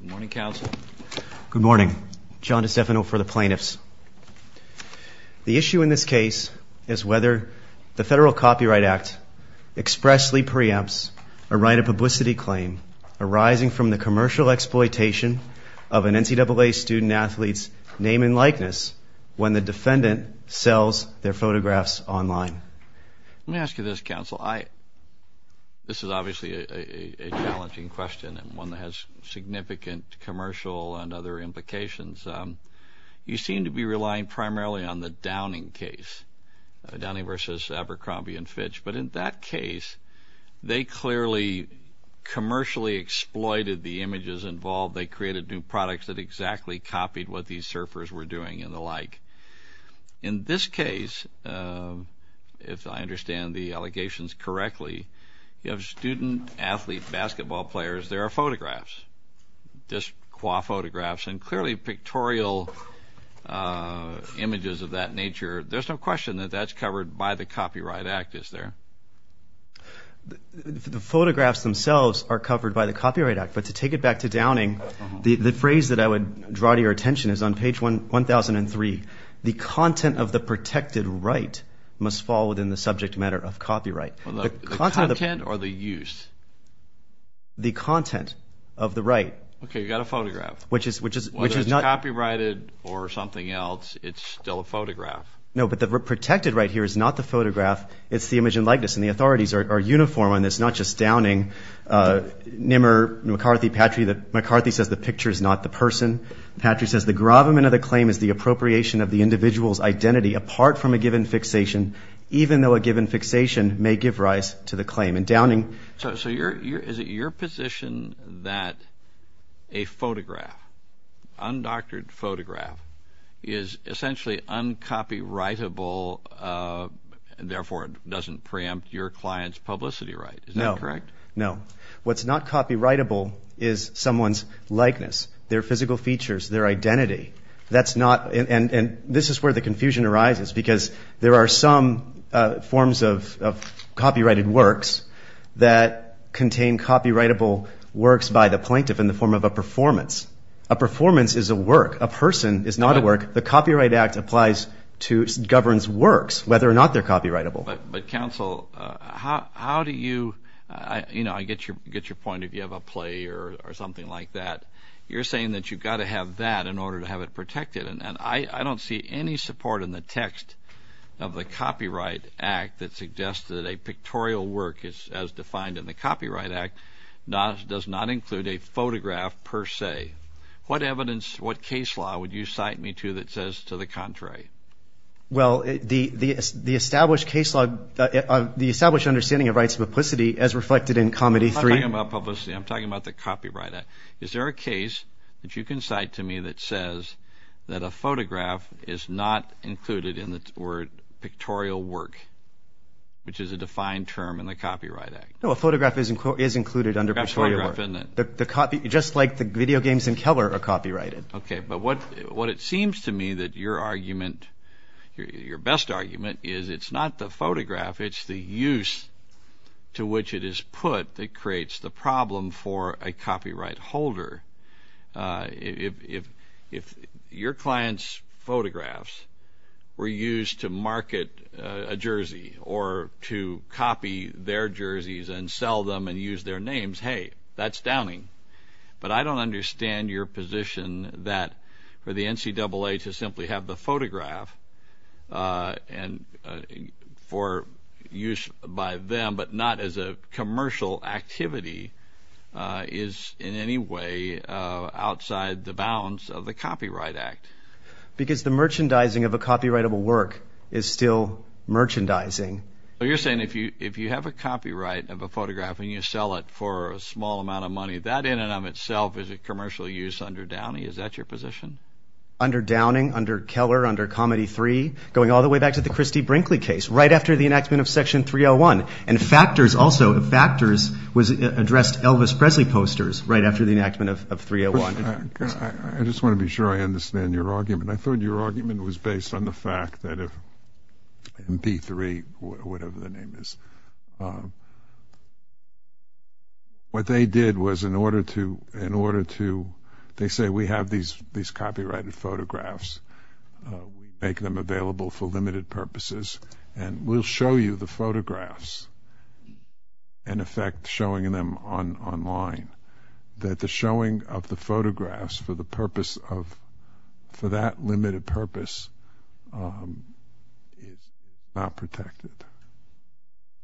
Good morning, counsel. Good morning. John DiStefano for the plaintiffs. The issue in this case is whether the Federal Copyright Act expressly preempts a right of publicity claim arising from the commercial exploitation of an NCAA student-athlete's name and likeness when the defendant sells their photographs online. Let me ask you this, counsel. This is obviously a challenging question and one that has significant commercial and other implications. You seem to be relying primarily on the Downing case, Downing v. Abercrombie & Fitch. But in that case, they clearly commercially exploited the images involved. They created new products that exactly copied what these surfers were doing and the like. In this case, if I understand the allegations correctly, you have student-athlete basketball players. There are photographs, disqua photographs, and clearly pictorial images of that nature. There's no question that that's covered by the Copyright Act, is there? The photographs themselves are covered by the Copyright Act. But to take it back to Downing, the phrase that I would draw to your attention is on page 1003. The content of the protected right must fall within the subject matter of copyright. The content or the use? The content of the right. Okay, you've got a photograph. Whether it's copyrighted or something else, it's still a photograph. No, but the protected right here is not the photograph. It's the image and likeness. And the authorities are uniform on this, not just Downing. Nimmer, McCarthy, Patry, McCarthy says the picture is not the person. Patry says the gravamen of the claim is the appropriation of the individual's identity apart from a given fixation, even though a given fixation may give rise to the claim. And Downing? So is it your position that a photograph, undoctored photograph, is essentially uncopyrightable, and therefore doesn't preempt your client's publicity right? Is that correct? No. What's not copyrightable is someone's likeness, their physical features, their identity. And this is where the confusion arises because there are some forms of copyrighted works that contain copyrightable works by the plaintiff in the form of a performance. A performance is a work. A person is not a work. The Copyright Act applies to, governs works, whether or not they're copyrightable. But counsel, how do you, you know, I get your point if you have a play or something like that. You're saying that you've got to have that in order to have it protected. And I don't see any support in the text of the Copyright Act that suggests that a pictorial work, as defined in the Copyright Act, does not include a photograph per se. What evidence, what case law would you cite me to that says to the contrary? Well, the established case law, the established understanding of rights of publicity as reflected in Comedy 3. I'm not talking about publicity. I'm talking about the Copyright Act. Is there a case that you can cite to me that says that a photograph is not included in the word pictorial work, which is a defined term in the Copyright Act? No, a photograph is included under pictorial work. Just like the video games in Keller are copyrighted. Okay. But what it seems to me that your argument, your best argument, is it's not the photograph. It's the use to which it is put that creates the problem for a copyright holder. If your client's photographs were used to market a jersey or to copy their jerseys and sell them and use their names, hey, that's downing. But I don't understand your position that for the NCAA to simply have the photograph for use by them, but not as a commercial activity, is in any way outside the bounds of the Copyright Act. Because the merchandising of a copyrightable work is still merchandising. You're saying if you have a copyright of a photograph and you sell it for a small amount of money, that in and of itself is a commercial use under Downing? Is that your position? Under Downing, under Keller, under Comedy 3, going all the way back to the Christie Brinkley case, right after the enactment of Section 301. And Factors also, Factors addressed Elvis Presley posters right after the enactment of 301. I just want to be sure I understand your argument. I thought your argument was based on the fact that if MP3, whatever the name is, what they did was in order to, they say, we have these copyrighted photographs. We make them available for limited purposes and we'll show you the photographs. In effect, showing them online, that the showing of the photographs for the purpose of, for that limited purpose is not protected.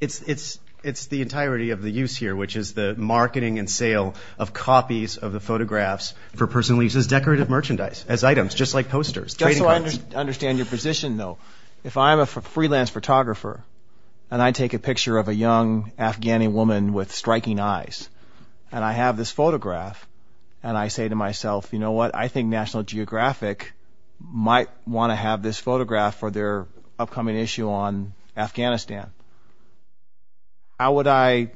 It's the entirety of the use here, which is the marketing and sale of copies of the photographs for personal use as decorative merchandise, as items, just like posters. Just so I understand your position, though, if I'm a freelance photographer and I take a picture of a young Afghani woman with striking eyes and I have this photograph and I say to myself, you know what, I think National Geographic might want to have this photograph for their upcoming issue on Afghanistan. How would I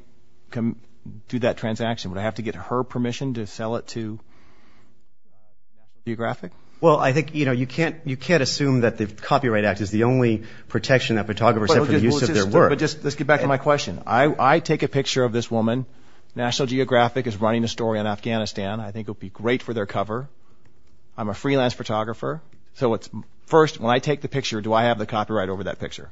do that transaction? Would I have to get her permission to sell it to National Geographic? Well, I think, you know, you can't assume that the Copyright Act is the only protection that photographers have for the use of their work. Let's get back to my question. I take a picture of this woman. National Geographic is running a story on Afghanistan. I think it would be great for their cover. I'm a freelance photographer. So first, when I take the picture, do I have the copyright over that picture?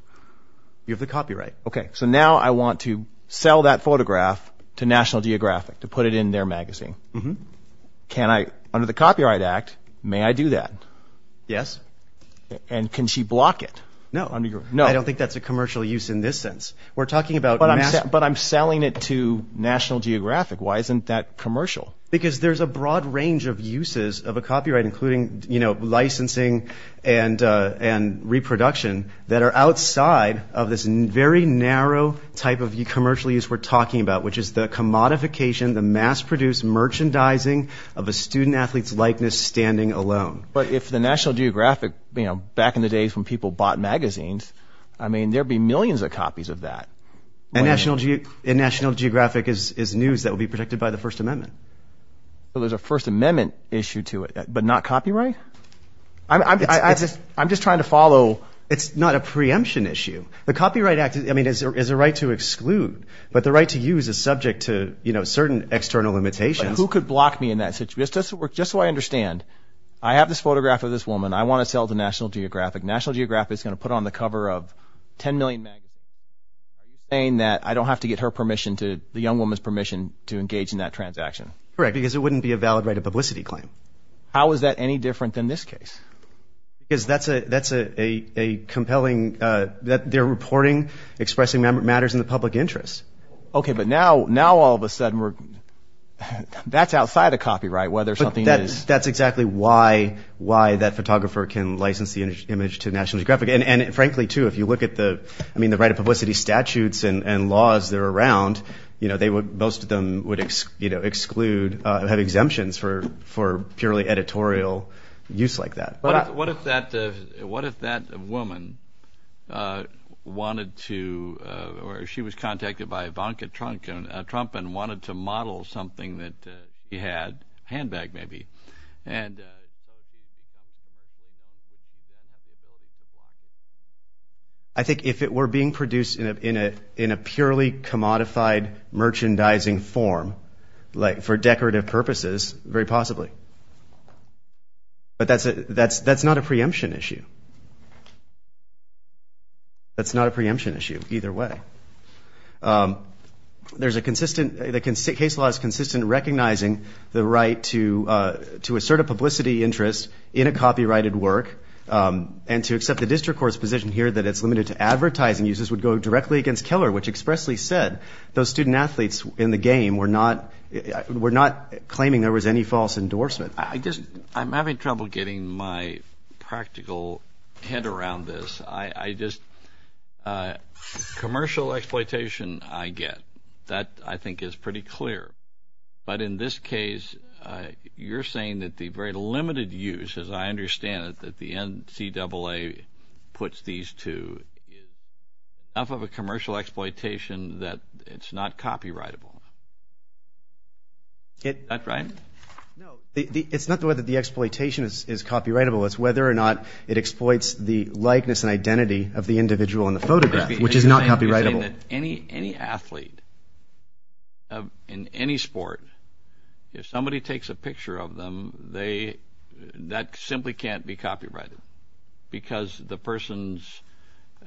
You have the copyright. Okay, so now I want to sell that photograph to National Geographic to put it in their magazine. Can I, under the Copyright Act, may I do that? Yes. And can she block it? No, I don't think that's a commercial use in this sense. But I'm selling it to National Geographic. Why isn't that commercial? Because there's a broad range of uses of a copyright, including licensing and reproduction, that are outside of this very narrow type of commercial use we're talking about, which is the commodification, the mass-produced merchandising of a student-athlete's likeness standing alone. But if the National Geographic, you know, back in the days when people bought magazines, I mean, there would be millions of copies of that. And National Geographic is news that would be protected by the First Amendment. But there's a First Amendment issue to it, but not copyright? I'm just trying to follow. It's not a preemption issue. The Copyright Act, I mean, is a right to exclude, but the right to use is subject to certain external limitations. But who could block me in that situation? Just so I understand, I have this photograph of this woman. I want to sell it to National Geographic. National Geographic is going to put on the cover of 10 million magazines. Are you saying that I don't have to get her permission, the young woman's permission, to engage in that transaction? Correct, because it wouldn't be a valid right of publicity claim. How is that any different than this case? Because that's a compelling – they're reporting, expressing matters in the public interest. Okay, but now all of a sudden we're – that's outside of copyright, whether something is – But that's exactly why that photographer can license the image to National Geographic. And, frankly, too, if you look at the – I mean, the right of publicity statutes and laws that are around, most of them would exclude – have exemptions for purely editorial use like that. What if that woman wanted to – or she was contacted by Ivanka Trump and wanted to model something that he had, a handbag maybe, and – I think if it were being produced in a purely commodified merchandising form, for decorative purposes, very possibly. But that's not a preemption issue. That's not a preemption issue either way. There's a consistent – the case law is consistent recognizing the right to assert a publicity interest in a copyrighted work and to accept the district court's position here that it's limited to advertising uses would go directly against Keller, which expressly said those student athletes in the game were not claiming there was any false endorsement. I just – I'm having trouble getting my practical head around this. I just – commercial exploitation I get. That, I think, is pretty clear. But in this case, you're saying that the very limited use, as I understand it, that the NCAA puts these two is enough of a commercial exploitation that it's not copyrightable. Is that right? No. It's not the way that the exploitation is copyrightable. It's whether or not it exploits the likeness and identity of the individual in the photograph, which is not copyrightable. You're saying that any athlete in any sport, if somebody takes a picture of them, that simply can't be copyrighted because the person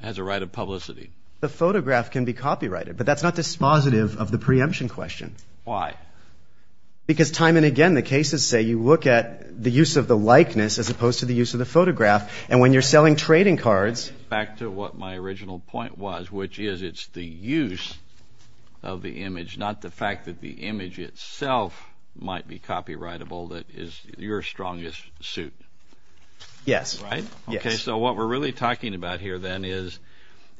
has a right of publicity. The photograph can be copyrighted, but that's not dispositive of the preemption question. Why? Because time and again the cases say you look at the use of the likeness as opposed to the use of the photograph, and when you're selling trading cards – Back to what my original point was, which is it's the use of the image, not the fact that the image itself might be copyrightable that is your strongest suit. Yes. Right? Yes. Okay. So what we're really talking about here then is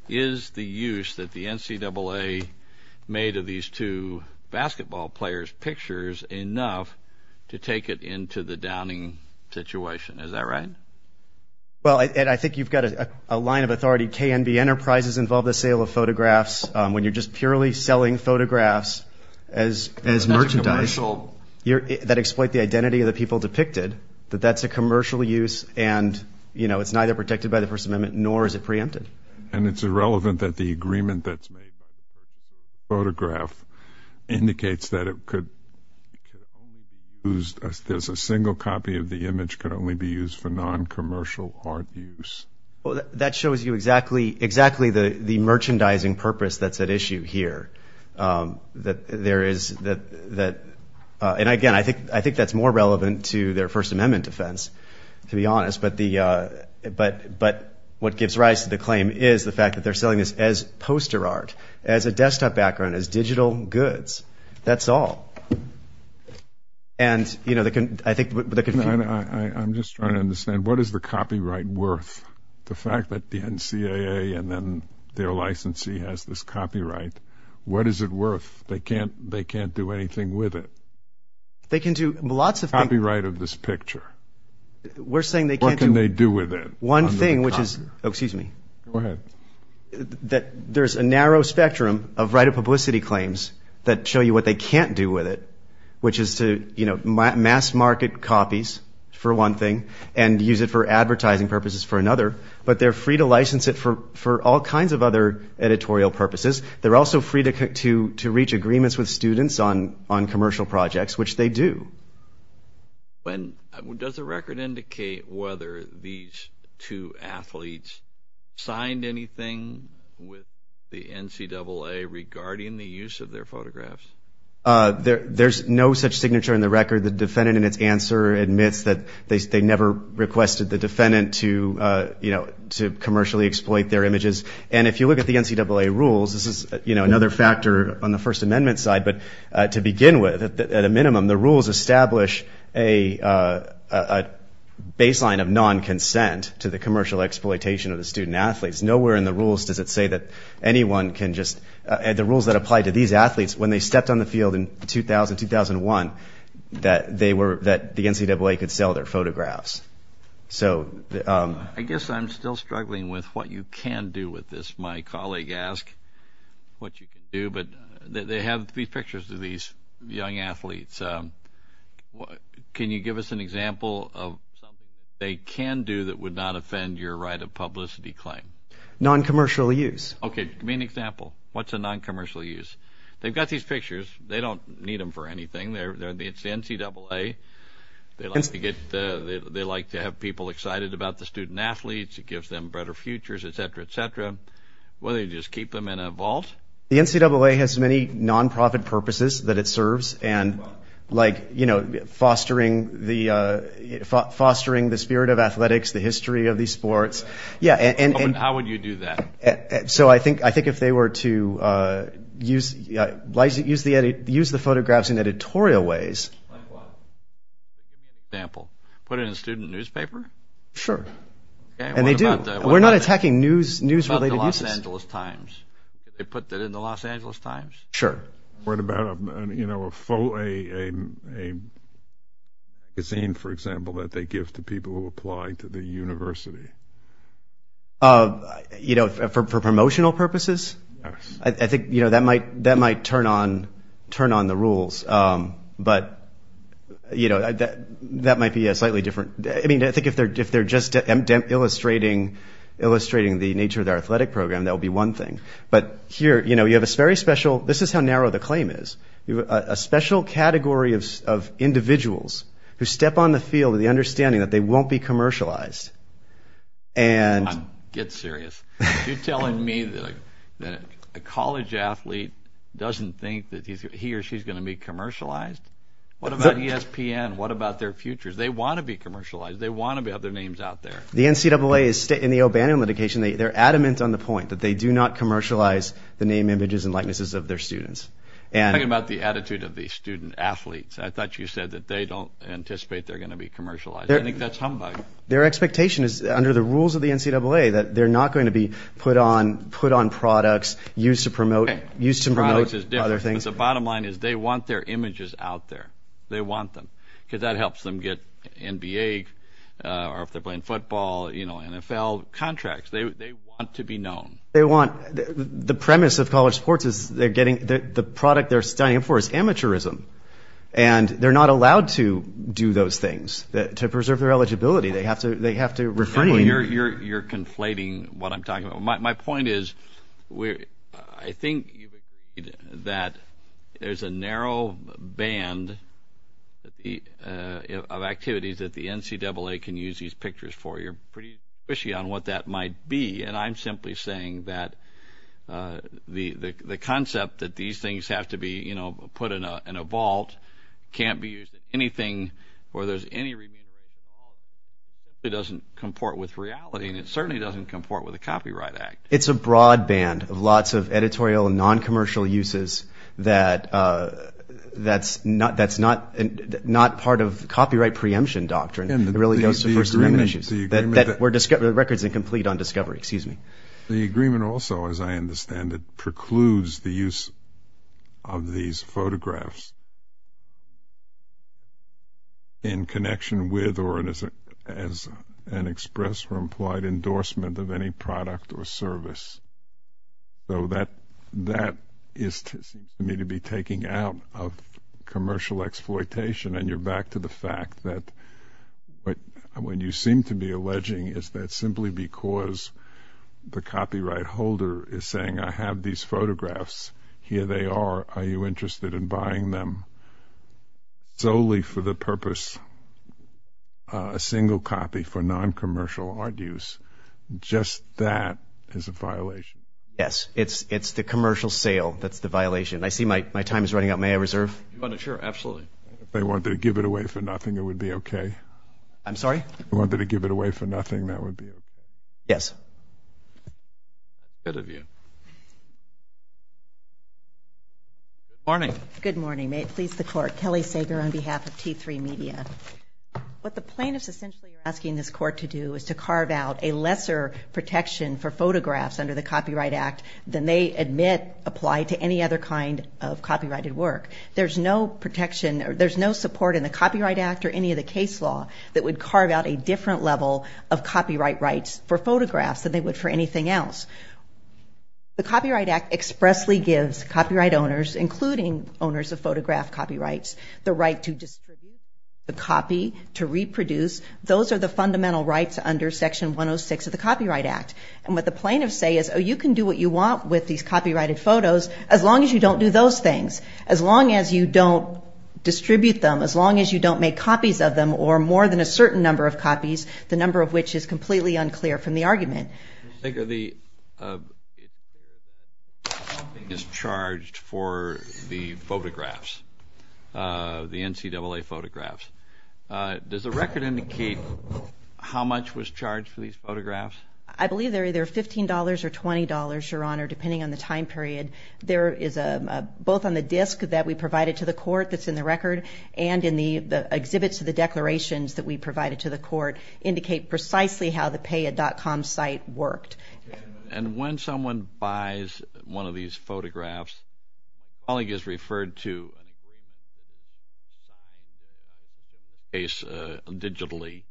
is the use that the NCAA made of these two basketball players' pictures enough to take it into the Downing situation. Is that right? Well, Ed, I think you've got a line of authority. KNB Enterprises involved the sale of photographs. When you're just purely selling photographs as merchandise that exploit the identity of the people depicted, that that's a commercial use and, you know, it's neither protected by the First Amendment nor is it preempted. And it's irrelevant that the agreement that's made by the First Amendment photograph indicates that it could only be used – there's a single copy of the image could only be used for non-commercial art use. Well, that shows you exactly the merchandising purpose that's at issue here, that there is – and, again, I think that's more relevant to their First Amendment defense, to be honest. But what gives rise to the claim is the fact that they're selling this as poster art, as a desktop background, as digital goods. That's all. And, you know, I think – I'm just trying to understand, what is the copyright worth? The fact that the NCAA and then their licensee has this copyright, what is it worth? They can't do anything with it. They can do lots of things. Copyright of this picture. We're saying they can't do – What can they do with it? One thing, which is – oh, excuse me. Go ahead. There's a narrow spectrum of right-of-publicity claims that show you what they can't do with it, which is to, you know, mass-market copies, for one thing, and use it for advertising purposes for another. But they're free to license it for all kinds of other editorial purposes. They're also free to reach agreements with students on commercial projects, which they do. When – does the record indicate whether these two athletes signed anything with the NCAA regarding the use of their photographs? There's no such signature in the record. The defendant in its answer admits that they never requested the defendant to, you know, to commercially exploit their images. And if you look at the NCAA rules, this is, you know, another factor on the First Amendment side. But to begin with, at a minimum, the rules establish a baseline of non-consent to the commercial exploitation of the student-athletes. Nowhere in the rules does it say that anyone can just – the rules that apply to these athletes, when they stepped on the field in 2000, 2001, that they were – that the NCAA could sell their photographs. So – I guess I'm still struggling with what you can do with this. My colleague asked what you can do. But they have these pictures of these young athletes. Can you give us an example of something they can do that would not offend your right of publicity claim? Non-commercial use. Okay, give me an example. What's a non-commercial use? They've got these pictures. They don't need them for anything. It's the NCAA. They like to get – they like to have people excited about the student-athletes. It gives them better futures, et cetera, et cetera. Why don't you just keep them in a vault? The NCAA has many non-profit purposes that it serves. And, like, you know, fostering the spirit of athletics, the history of these sports. Yeah, and – How would you do that? So I think if they were to use – use the photographs in editorial ways. Like what? Example. Put it in a student newspaper? Sure. And they do. We're not attacking news-related uses. What about the Los Angeles Times? They put that in the Los Angeles Times? Sure. What about, you know, a magazine, for example, that they give to people who apply to the university? You know, for promotional purposes? Yes. I think, you know, that might turn on the rules. But, you know, that might be a slightly different – I mean, I think if they're just illustrating the nature of their athletic program, that would be one thing. But here, you know, you have a very special – this is how narrow the claim is. A special category of individuals who step on the field of the understanding that they won't be commercialized. Get serious. You're telling me that a college athlete doesn't think that he or she is going to be commercialized? What about ESPN? What about their futures? They want to be commercialized. They want to have their names out there. The NCAA is – in the O'Bannon litigation, they're adamant on the point that they do not commercialize the name, images, and likenesses of their students. I'm talking about the attitude of the student athletes. I thought you said that they don't anticipate they're going to be commercialized. I think that's humbug. Their expectation is, under the rules of the NCAA, that they're not going to be put on products used to promote other things. The bottom line is they want their images out there. They want them because that helps them get NBA or if they're playing football, you know, NFL contracts. They want to be known. They want – the premise of college sports is they're getting – the product they're standing for is amateurism, and they're not allowed to do those things to preserve their eligibility. They have to refrain. You're conflating what I'm talking about. My point is I think you've agreed that there's a narrow band of activities that the NCAA can use these pictures for. You're pretty squishy on what that might be, and I'm simply saying that the concept that these things have to be, you know, put in a vault, can't be used in anything where there's any remuneration involved. It doesn't comport with reality, and it certainly doesn't comport with a copyright act. It's a broad band of lots of editorial and noncommercial uses that's not part of copyright preemption doctrine. It really goes to first amendment issues. The agreement that – The record's incomplete on discovery. Excuse me. The agreement also, as I understand it, precludes the use of these photographs in connection with or as an express or implied endorsement of any product or service. So that is to me to be taking out of commercial exploitation, and you're back to the fact that what you seem to be alleging is that simply because the copyright holder is saying, I have these photographs. Here they are. Are you interested in buying them solely for the purpose, a single copy for noncommercial art use? Just that is a violation. Yes, it's the commercial sale that's the violation. I see my time is running out. May I reserve? Sure, absolutely. If they wanted to give it away for nothing, it would be okay? I'm sorry? If they wanted to give it away for nothing, that would be okay? Yes. Good of you. Good morning. Good morning. May it please the Court. Kelly Sager on behalf of T3 Media. What the plaintiffs essentially are asking this Court to do is to carve out a lesser protection for photographs under the Copyright Act than they admit apply to any other kind of copyrighted work. There's no protection or there's no support in the Copyright Act or any of the case law that would carve out a different level of copyright rights for photographs than they would for anything else. The Copyright Act expressly gives copyright owners, including owners of photograph copyrights, the right to distribute the copy, to reproduce. Those are the fundamental rights under Section 106 of the Copyright Act. And what the plaintiffs say is, oh, you can do what you want with these copyrighted photos as long as you don't do those things, as long as you don't distribute them, as long as you don't make copies of them or more than a certain number of copies, the number of which is completely unclear from the argument. Ms. Sager, the copy is charged for the photographs, the NCAA photographs. Does the record indicate how much was charged for these photographs? I believe they're either $15 or $20, Your Honor, depending on the time period. Both on the disk that we provided to the court that's in the record and in the exhibits of the declarations that we provided to the court indicate precisely how the payit.com site worked. And when someone buys one of these photographs, a colleague has referred to an agreement designed with any case digitally.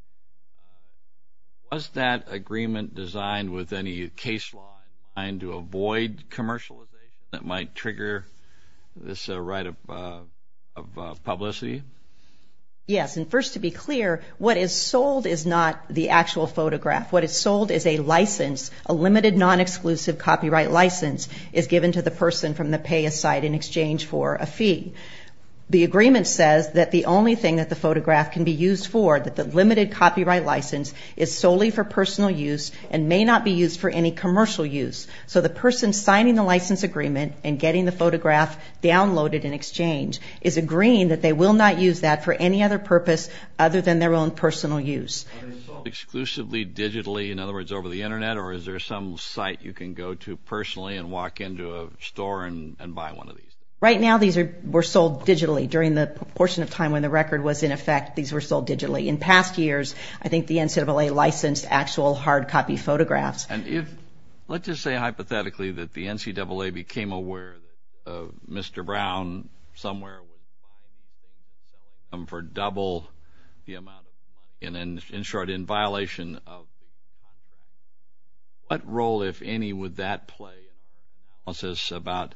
Was that agreement designed with any case law designed to avoid commercialization that might trigger this right of publicity? Yes, and first to be clear, what is sold is not the actual photograph. What is sold is a license, a limited non-exclusive copyright license is given to the person from the payit.com site in exchange for a fee. The agreement says that the only thing that the photograph can be used for, that the limited copyright license, is solely for personal use and may not be used for any commercial use. So the person signing the license agreement and getting the photograph downloaded in exchange is agreeing that they will not use that for any other purpose other than their own personal use. Is it sold exclusively digitally, in other words, over the Internet, or is there some site you can go to personally and walk into a store and buy one of these? Right now, these were sold digitally. During the portion of time when the record was in effect, these were sold digitally. In past years, I think the NCAA licensed actual hard copy photographs. Let's just say hypothetically that the NCAA became aware of Mr. Brown somewhere for double the amount of copies. In short, in violation of the copyright act. What role, if any, would that play in the process about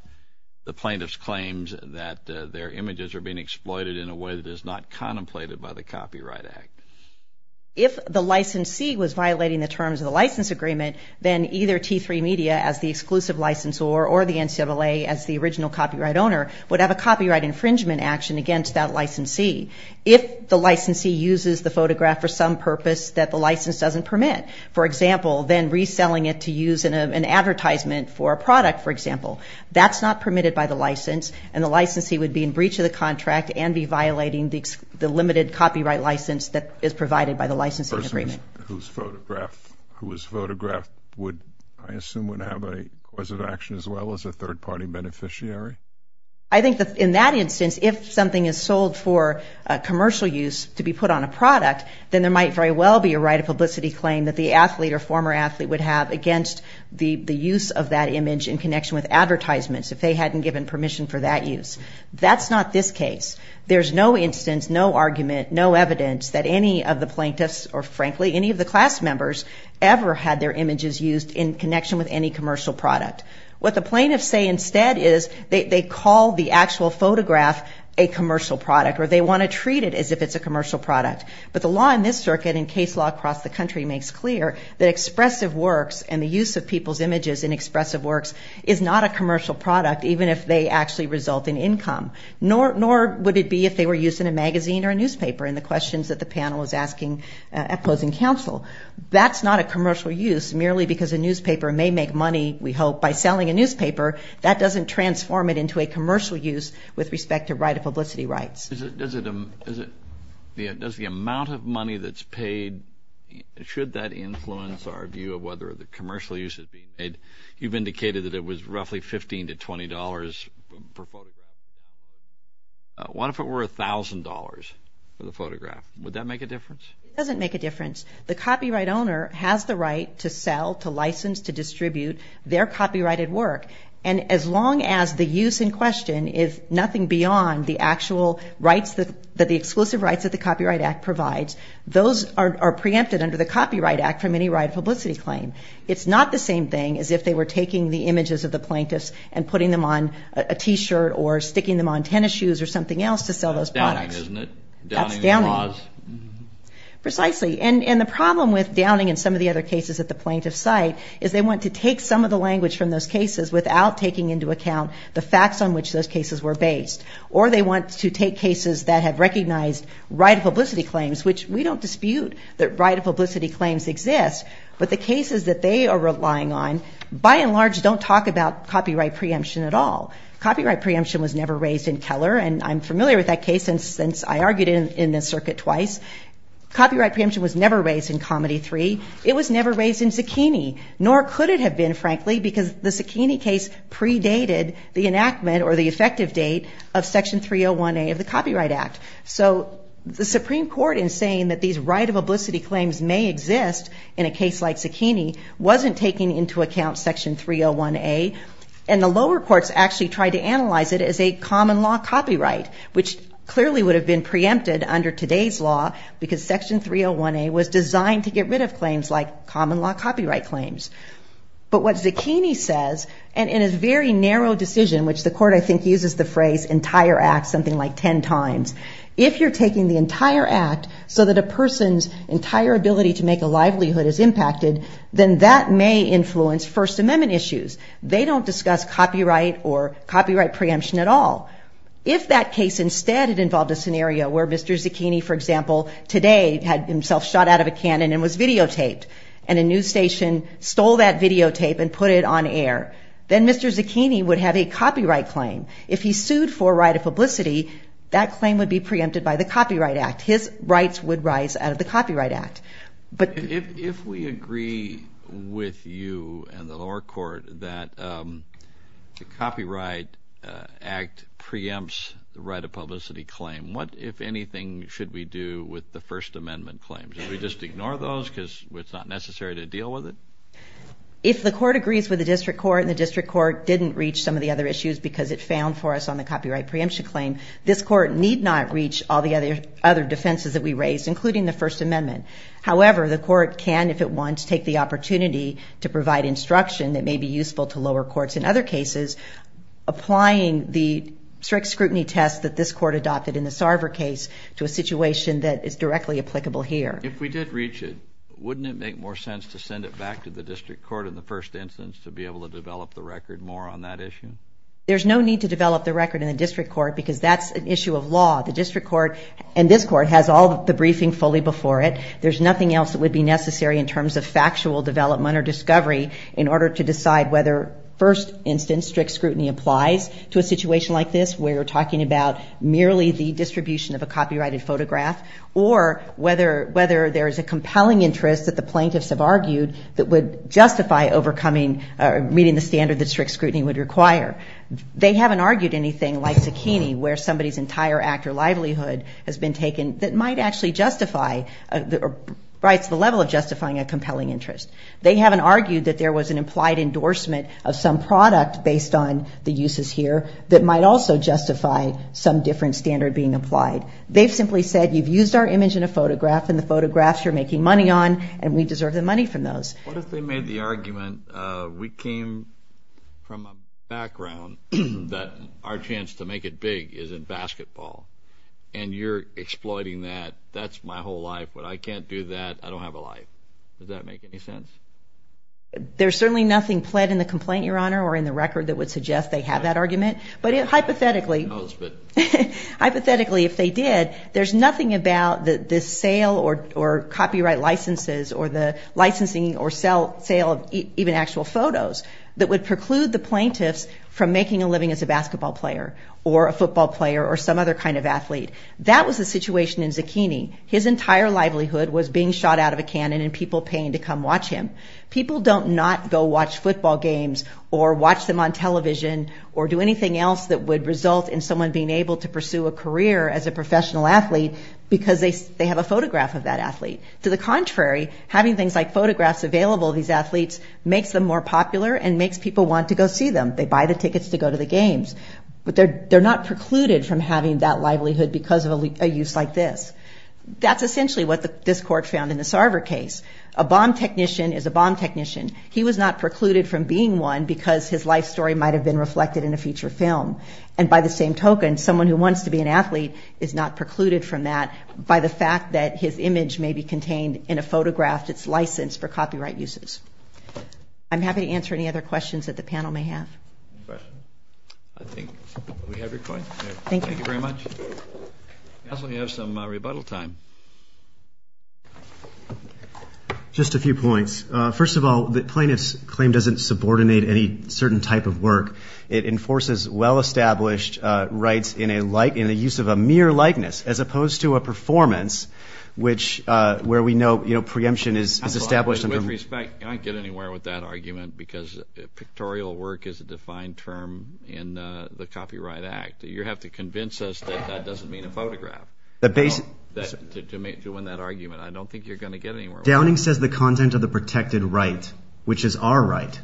the plaintiff's claims that their images are being exploited in a way that is not contemplated by the Copyright Act? If the licensee was violating the terms of the license agreement, then either T3 Media as the exclusive licensor or the NCAA as the original copyright owner would have a copyright infringement action against that licensee if the licensee uses the photograph for some purpose that the license doesn't permit. For example, then reselling it to use in an advertisement for a product, for example. That's not permitted by the license, and the licensee would be in breach of the contract and be violating the limited copyright license that is provided by the licensing agreement. Whose photograph would, I assume, would have a cause of action as well as a third-party beneficiary? I think that in that instance, if something is sold for commercial use to be put on a product, then there might very well be a right of publicity claim that the athlete or former athlete would have against the use of that image in connection with advertisements if they hadn't given permission for that use. That's not this case. There's no instance, no argument, no evidence that any of the plaintiffs or, frankly, any of the class members ever had their images used in connection with any commercial product. What the plaintiffs say instead is they call the actual photograph a commercial product or they want to treat it as if it's a commercial product. But the law in this circuit and case law across the country makes clear that expressive works and the use of people's images in expressive works is not a commercial product even if they actually result in income, nor would it be if they were used in a magazine or a newspaper in the questions that the panel was asking at closing counsel. That's not a commercial use merely because a newspaper may make money, we hope, by selling a newspaper. That doesn't transform it into a commercial use with respect to right of publicity rights. Does the amount of money that's paid, should that influence our view of whether the commercial use is being made? You've indicated that it was roughly $15 to $20 per photograph. What if it were $1,000 for the photograph? Would that make a difference? It doesn't make a difference. The copyright owner has the right to sell, to license, to distribute their copyrighted work, and as long as the use in question is nothing beyond the actual rights that the Exclusive Rights of the Copyright Act provides, those are preempted under the Copyright Act from any right of publicity claim. It's not the same thing as if they were taking the images of the plaintiffs and putting them on a T-shirt or sticking them on tennis shoes or something else to sell those products. That's downing, isn't it? That's downing. Precisely. And the problem with downing and some of the other cases at the plaintiff's site is they want to take some of the language from those cases without taking into account the facts on which those cases were based. Or they want to take cases that have recognized right of publicity claims, which we don't dispute that right of publicity claims exist, but the cases that they are relying on, by and large, don't talk about copyright preemption at all. Copyright preemption was never raised in Keller, and I'm familiar with that case since I argued in this circuit twice. Copyright preemption was never raised in Comedy 3. It was never raised in Zucchini, nor could it have been, frankly, because the Zucchini case predated the enactment or the effective date of Section 301A of the Copyright Act. So the Supreme Court, in saying that these right of publicity claims may exist in a case like Zucchini, wasn't taking into account Section 301A, and the lower courts actually tried to analyze it as a common-law copyright, which clearly would have been preempted under today's law because Section 301A was designed to get rid of claims like common-law copyright claims. But what Zucchini says, and in a very narrow decision, which the court, I think, uses the phrase entire act something like 10 times, if you're taking the entire act so that a person's entire ability to make a livelihood is impacted, then that may influence First Amendment issues. They don't discuss copyright or copyright preemption at all. If that case instead had involved a scenario where Mr. Zucchini, for example, today had himself shot out of a cannon and was videotaped, and a news station stole that videotape and put it on air, then Mr. Zucchini would have a copyright claim. If he sued for right of publicity, that claim would be preempted by the Copyright Act. His rights would rise out of the Copyright Act. If we agree with you and the lower court that the Copyright Act preempts the right of publicity claim, what, if anything, should we do with the First Amendment claims? Should we just ignore those because it's not necessary to deal with it? If the court agrees with the district court and the district court didn't reach some of the other issues because it found for us on the copyright preemption claim, this court need not reach all the other defenses that we raised, including the First Amendment. However, the court can, if it wants, take the opportunity to provide instruction that may be useful to lower courts in other cases, applying the strict scrutiny test that this court adopted in the Sarver case to a situation that is directly applicable here. If we did reach it, wouldn't it make more sense to send it back to the district court in the first instance to be able to develop the record more on that issue? There's no need to develop the record in the district court because that's an issue of law. The district court and this court has all the briefing fully before it. There's nothing else that would be necessary in terms of factual development or discovery in order to decide whether, first instance, strict scrutiny applies to a situation like this where you're talking about merely the distribution of a copyrighted photograph or whether there is a compelling interest that the plaintiffs have argued that would justify overcoming or meeting the standard that strict scrutiny would require. They haven't argued anything like Zucchini, where somebody's entire act or livelihood has been taken that might actually justify or rise to the level of justifying a compelling interest. They haven't argued that there was an implied endorsement of some product based on the uses here that might also justify some different standard being applied. They've simply said you've used our image in a photograph and the photographs you're making money on and we deserve the money from those. What if they made the argument we came from a background that our chance to make it big is in basketball and you're exploiting that. That's my whole life, but I can't do that. I don't have a life. Does that make any sense? There's certainly nothing pled in the complaint, Your Honor, or in the record that would suggest they have that argument. Hypothetically, if they did, there's nothing about the sale or copyright licenses or the licensing or sale of even actual photos that would preclude the plaintiffs from making a living as a basketball player or a football player or some other kind of athlete. That was the situation in Zucchini. His entire livelihood was being shot out of a cannon and people paying to come watch him. People don't not go watch football games or watch them on television or do anything else that would result in someone being able to pursue a career as a professional athlete because they have a photograph of that athlete. To the contrary, having things like photographs available to these athletes makes them more popular and makes people want to go see them. They buy the tickets to go to the games, but they're not precluded from having that livelihood because of a use like this. That's essentially what this Court found in the Sarver case. A bomb technician is a bomb technician. He was not precluded from being one because his life story might have been reflected in a feature film. And by the same token, someone who wants to be an athlete is not precluded from that by the fact that his image may be contained in a photograph that's licensed for copyright uses. I'm happy to answer any other questions that the panel may have. I think we have your point. Thank you very much. I also have some rebuttal time. Just a few points. First of all, the plaintiff's claim doesn't subordinate any certain type of work. It enforces well-established rights in the use of a mere likeness as opposed to a performance, which where we know preemption is established. With respect, I don't get anywhere with that argument because pictorial work is a defined term in the Copyright Act. You have to convince us that that doesn't mean a photograph to win that argument. I don't think you're going to get anywhere with that. Downing says the content of the protected right, which is our right,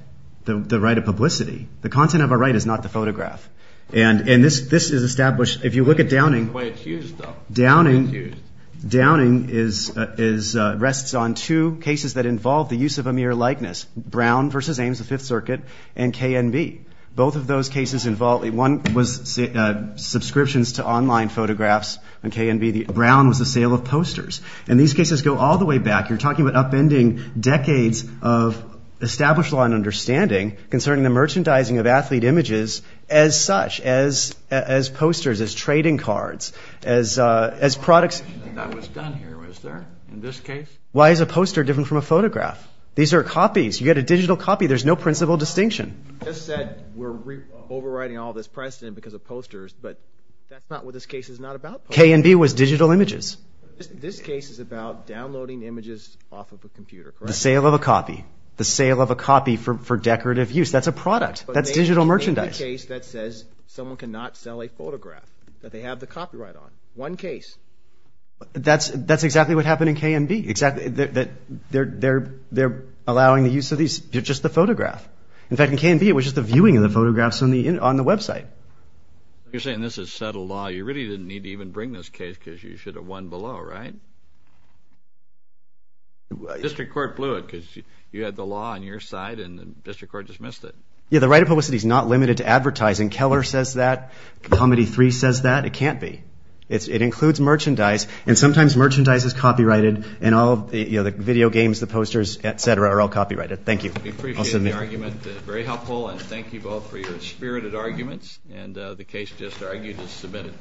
the right of publicity. The content of our right is not the photograph. And this is established. If you look at Downing. Downing rests on two cases that involve the use of a mere likeness, Brown v. Ames, the Fifth Circuit, and KNB. Both of those cases involve subscriptions to online photographs and KNB. Brown was the sale of posters. And these cases go all the way back. You're talking about upending decades of established law and understanding concerning the merchandising of athlete images as such, as posters, as trading cards, as products. That was done here, was there, in this case? Why is a poster different from a photograph? These are copies. You get a digital copy. There's no principal distinction. You just said we're overriding all this precedent because of posters, but that's not what this case is not about. KNB was digital images. This case is about downloading images off of a computer, correct? The sale of a copy. The sale of a copy for decorative use. That's a product. That's digital merchandise. That's a case that says someone cannot sell a photograph that they have the copyright on. One case. That's exactly what happened in KNB. They're allowing the use of these, just the photograph. In fact, in KNB, it was just the viewing of the photographs on the website. You're saying this is settled law. You really didn't need to even bring this case because you should have won below, right? The district court blew it because you had the law on your side and the district court dismissed it. Yeah, the right of publicity is not limited to advertising. Keller says that. Comedy 3 says that. It can't be. It includes merchandise, and sometimes merchandise is copyrighted, and all the video games, the posters, et cetera, are all copyrighted. Thank you. I'll submit. I appreciate the argument. Very helpful, and thank you both for your spirited arguments, and the case just argued is submitted.